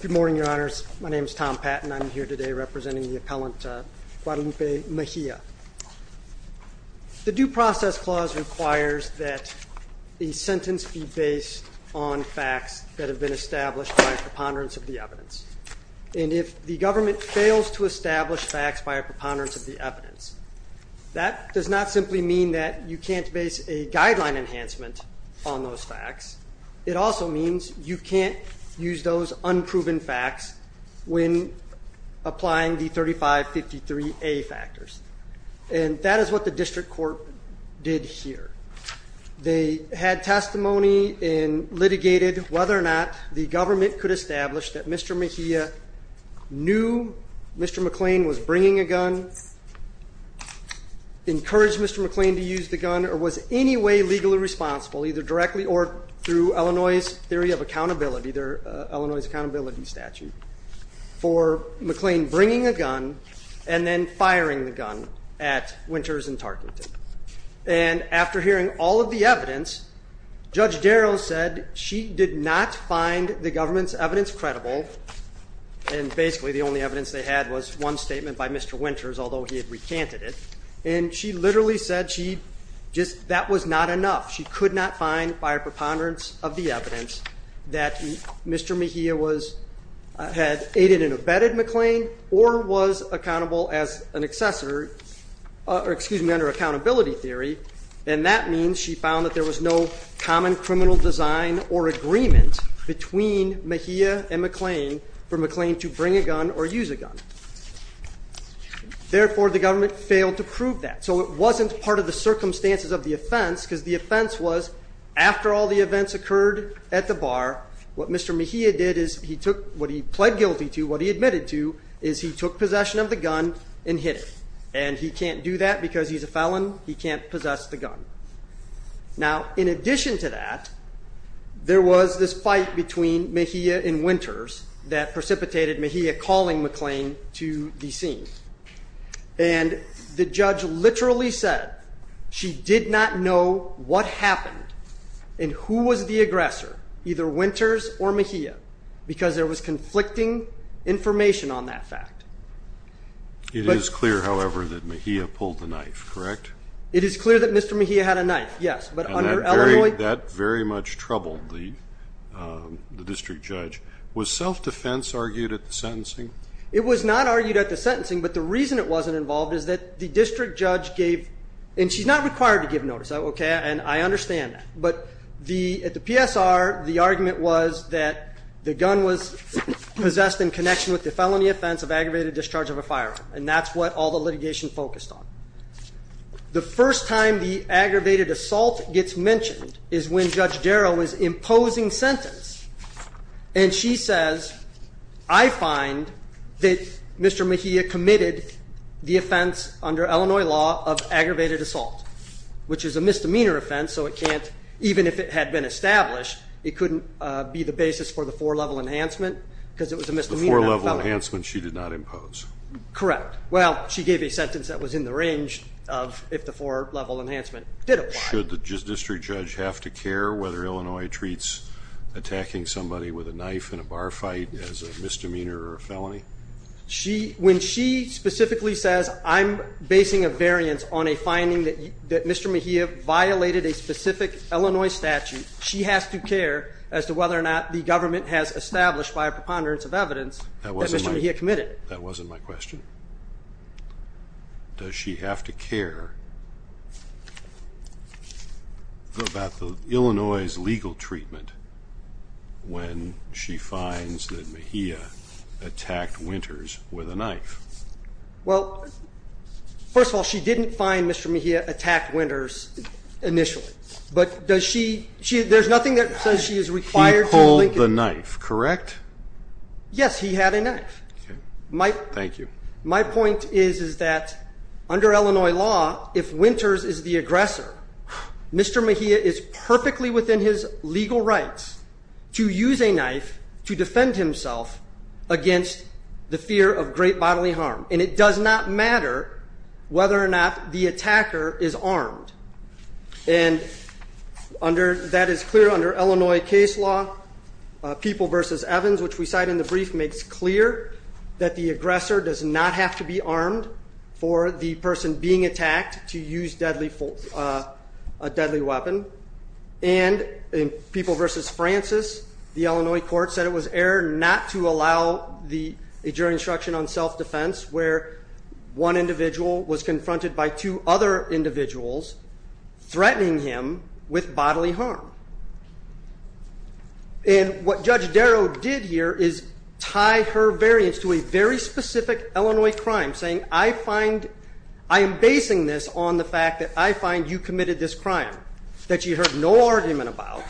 Good morning, Your Honors. My name is Tom Patton. I'm here today representing the appellant Guadalupe Mejia. The Due Process Clause requires that a sentence be based on facts that have been established by a preponderance of the evidence. And if the government fails to establish facts by a preponderance of the evidence, that does not simply mean that you can't base a guideline enhancement on those facts. It also means you can't use those unproven facts when applying the 3553A factors. And that is what the district court did here. They had testimony and litigated whether or not the government could establish that Mr. Mejia knew Mr. McLean was bringing a gun, encouraged Mr. McLean to use the gun, or was in any way legally responsible, either directly or through Illinois' Theory of Accountability, their Illinois Accountability Statute, for McLean bringing a gun and then firing the gun at Winters and Tarkington. And after hearing all of the evidence, Judge Darrow said she did not find the government's evidence credible, and basically the only evidence they had was one statement by Mr. Winters, although he had recanted it. And she literally said that was not enough. She could not find, by a preponderance of the evidence, that Mr. Mejia had aided and abetted McLean or was accountable as an assessor, excuse me, under Accountability Theory. And that means she found that there was no common criminal design or agreement between Mejia and McLean for McLean to bring a gun or use a gun. Therefore, the government failed to prove that. So it wasn't part of the circumstances of the offense, because the offense was, after all the events occurred at the bar, what Mr. Mejia did is he took what he pled guilty to, what he admitted to, is he took possession of the gun and hit it. And he can't do that because he's a felon. He can't possess the gun. Now, in addition to that, there was this fight between Mejia and Winters that precipitated Mejia calling McLean to the scene. And the judge literally said she did not know what happened and who was the aggressor, either Winters or Mejia, because there was conflicting information on that fact. It is clear, however, that Mejia pulled the knife, correct? It is clear that Mr. Mejia had a knife, yes. And that very much troubled the district judge. Was self-defense argued at the sentencing? It was not argued at the sentencing, but the reason it wasn't involved is that the district judge gave, and she's not required to give notice, okay, and I understand that. But at the PSR, the argument was that the gun was possessed in connection with the felony offense of aggravated discharge of a firearm. And that's what all the litigation focused on. The first time the aggravated assault gets mentioned is when Judge Darrow is imposing sentence and she says, I find that Mr. Mejia committed the offense under Illinois law of aggravated assault, which is a misdemeanor offense, so it can't, even if it had been established, it couldn't be the basis for the four-level enhancement because it was a misdemeanor felony. The four-level enhancement she did not impose? Correct. Well, she gave a sentence that was in the range of if the four-level enhancement did apply. Should the district judge have to care whether Illinois treats attacking somebody with a knife in a bar fight as a misdemeanor or a felony? When she specifically says, I'm basing a variance on a finding that Mr. Mejia violated a specific Illinois statute, she has to care as to whether or not the government has established by a preponderance of evidence that Mr. Mejia committed. That wasn't my question. Does she have to care about Illinois' legal treatment when she finds that Mejia attacked Winters with a knife? Well, first of all, she didn't find Mr. Mejia attacked Winters initially, but does she, there's nothing that says she is required to link it. He pulled the knife, correct? Yes, he had a knife. Thank you. My point is, is that under Illinois law, if Winters is the aggressor, Mr. Mejia is perfectly within his legal rights to use a knife to defend himself against the fear of great bodily harm. And it does not matter whether or not the attacker is armed. And that is clear under Illinois case law, People v. Evans, which we cite in the brief makes clear that the aggressor does not have to be armed for the person being attacked to use a deadly weapon. And in People v. Francis, the Illinois court said it was error not to allow the injuring instruction on self-defense where one individual was confronted by two other individuals threatening him with bodily harm. And what Judge Darrow did here is tie her variance to a very specific Illinois crime, saying, I find, I am basing this on the fact that I find you committed this crime that you heard no argument about,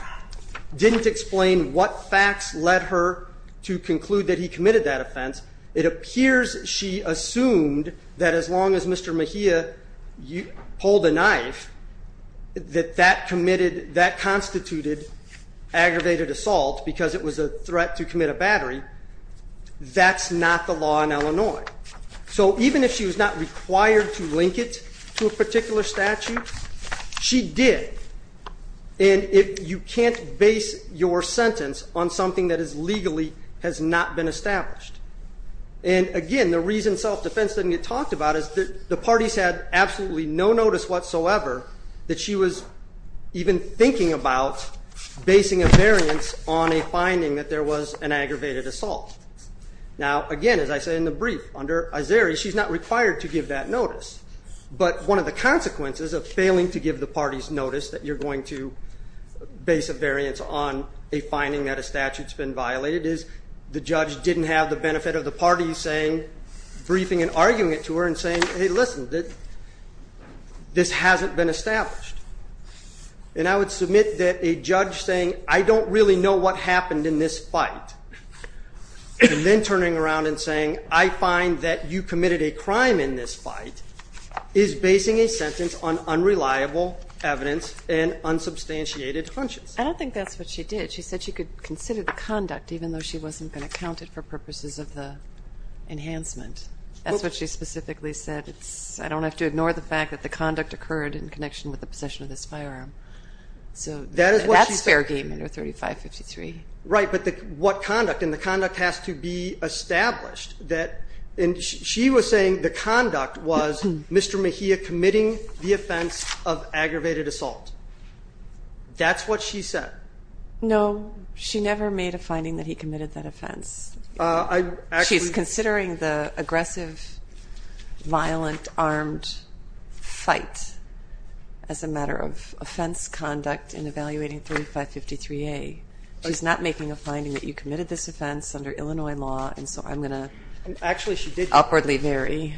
didn't explain what facts led her to conclude that he committed that offense. It appears she assumed that as long as Mr. Mejia pulled a knife, that that committed, that constituted aggravated assault because it was a threat to commit a battery, that's not the law in Illinois. So even if she was not required to link it to a particular statute, she did. And you can't base your sentence on something that is legally has not been established. And again, the reason self-defense doesn't get talked about is that the parties had absolutely no notice whatsoever that she was even thinking about basing a variance on a finding that there was an aggravated assault. Now again, as I said in the brief, under Azari, she's not required to give that notice. But one of the consequences of failing to give the parties notice that you're going to base a variance on a finding that a statute's been violated is the judge didn't have the This hasn't been established. And I would submit that a judge saying I don't really know what happened in this fight, and then turning around and saying I find that you committed a crime in this fight, is basing a sentence on unreliable evidence and unsubstantiated hunches. I don't think that's what she did. She said she could consider the conduct even though she wasn't going to count it for purposes of the enhancement. That's what she specifically said. I don't have to ignore the fact that the conduct occurred in connection with the possession of this firearm. So that's fair game under 3553. Right. But what conduct? And the conduct has to be established. She was saying the conduct was Mr. Mejia committing the offense of aggravated assault. That's what she said. No. She never made a finding that he committed that offense. She's considering the aggressive, violent, armed fight as a matter of offense conduct in evaluating 3553A. She's not making a finding that you committed this offense under Illinois law, and so I'm going to upwardly vary.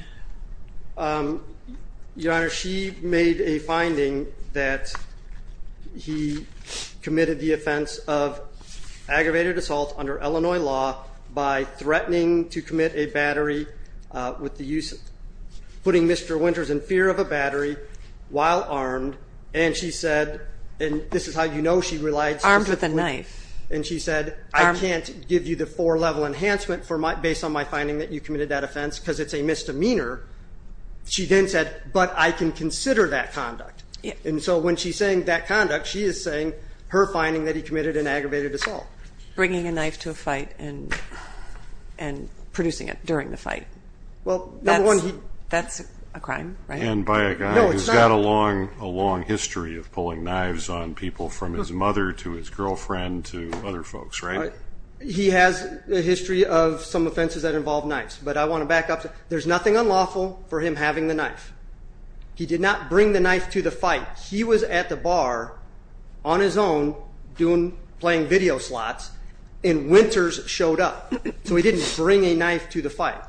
Your Honor, she made a finding that he committed the offense of aggravated assault under Illinois law by threatening to commit a battery with the use of, putting Mr. Winters in fear of a battery while armed, and she said, and this is how you know she relied specifically. Armed with a knife. And she said, I can't give you the four-level enhancement based on my finding that you committed that offense because it's a misdemeanor. She then said, but I can consider that conduct. And so when she's saying that conduct, she is saying her finding that he committed an aggravated assault. Bringing a knife to a fight and producing it during the fight. Well, that's a crime, right? And by a guy who's got a long history of pulling knives on people from his mother to his girlfriend to other folks, right? He has a history of some offenses that involve knives, but I want to back up. There's nothing unlawful for him having the knife. He did not bring the knife to the fight. He was at the bar on his own doing, playing video slots, and Winters showed up. So he didn't bring a knife to the fight.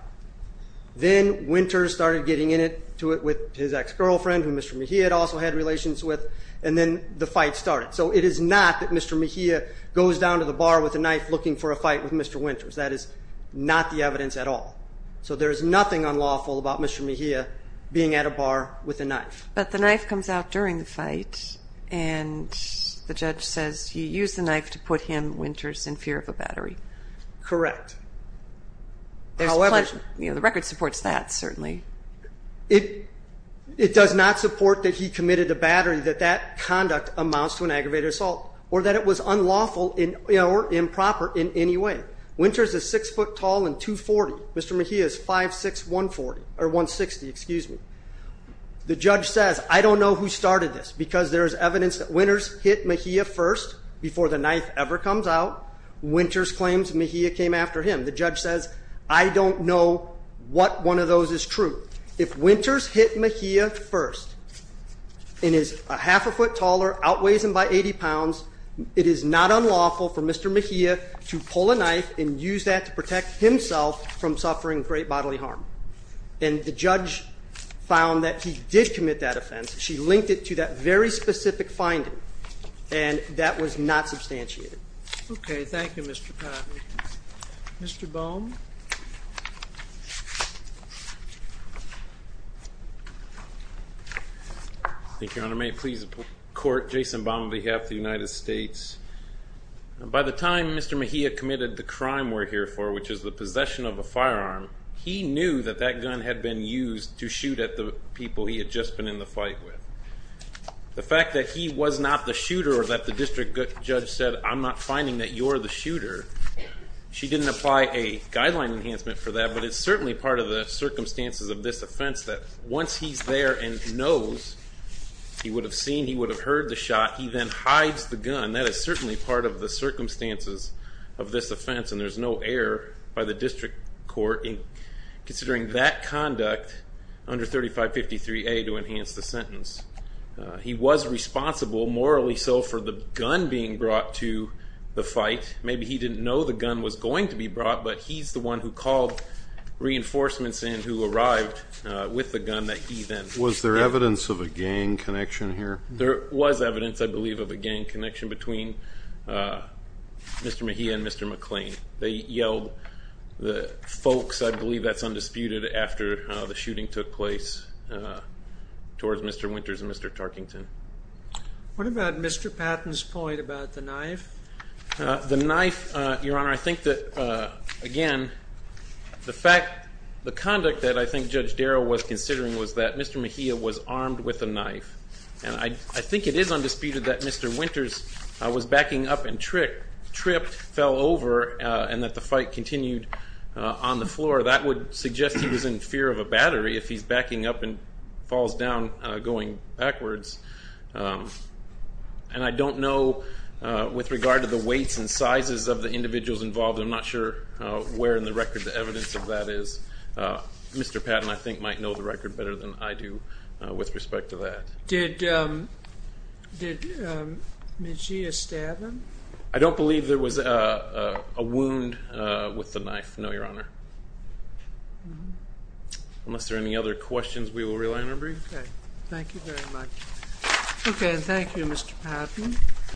Then Winters started getting into it with his ex-girlfriend, who Mr. Mejia had also had relations with, and then the fight started. So it is not that Mr. Mejia goes down to the bar with a knife looking for a fight with Mr. Winters. That is not the evidence at all. So there is nothing unlawful about Mr. Mejia being at a bar with a knife. But the knife comes out during the fight, and the judge says you used the knife to put him, Winters, in fear of a battery. Correct. However... There's pledge... You know, the record supports that, certainly. It does not support that he committed a battery, that that conduct amounts to an aggravated assault, or that it was unlawful or improper in any way. Winters is six foot tall and 240. Mr. Mejia is 5'6", 160, excuse me. The judge says, I don't know who started this, because there is evidence that Winters hit Mejia first, before the knife ever comes out. Winters claims Mejia came after him. The judge says, I don't know what one of those is true. If Winters hit Mejia first, and is a half a foot taller, outweighs him by 80 pounds, it is not unlawful for Mr. Mejia to pull a knife and use that to protect himself from suffering great bodily harm. And the judge found that he did commit that offense. She linked it to that very specific finding. And that was not substantiated. Okay, thank you, Mr. Cotton. Mr. Baum? Thank you, Your Honor, may it please the court, Jason Baum on behalf of the United States. By the time Mr. Mejia committed the crime we're here for, which is the possession of a firearm, he knew that that gun had been used to shoot at the people he had just been in the fight with. The fact that he was not the shooter, or that the district judge said, I'm not finding that you're the shooter, she didn't apply a guideline enhancement for that, but it's certainly part of the circumstances of this offense that once he's there and knows, he would have seen, he would have heard the shot, he then hides the gun, that is certainly part of the circumstances of this offense. And there's no error by the district court in considering that conduct under 3553A to enhance the sentence. He was responsible, morally so, for the gun being brought to the fight. Maybe he didn't know the gun was going to be brought, but he's the one who called reinforcements in who arrived with the gun that he then used. Was there evidence of a gang connection here? There was evidence, I believe, of a gang connection between Mr. Mejia and Mr. McClain. They yelled, the folks, I believe that's undisputed, after the shooting took place towards Mr. Winters and Mr. Tarkington. What about Mr. Patton's point about the knife? The knife, Your Honor, I think that, again, the fact, the conduct that I think Judge Darrow was considering was that Mr. Mejia was armed with a knife. And I think it is undisputed that Mr. Winters was backing up and tripped, fell over, and that the fight continued on the floor. That would suggest he was in fear of a battery if he's backing up and falls down going backwards. And I don't know, with regard to the weights and sizes of the individuals involved, I'm not sure where in the record the evidence of that is. Mr. Patton, I think, might know the record better than I do with respect to that. Did Mejia stab him? I don't believe there was a wound with the knife, no, Your Honor. Unless there are any other questions, we will rely on our brief. Okay. Thank you very much. Okay, and thank you, Mr. Patton.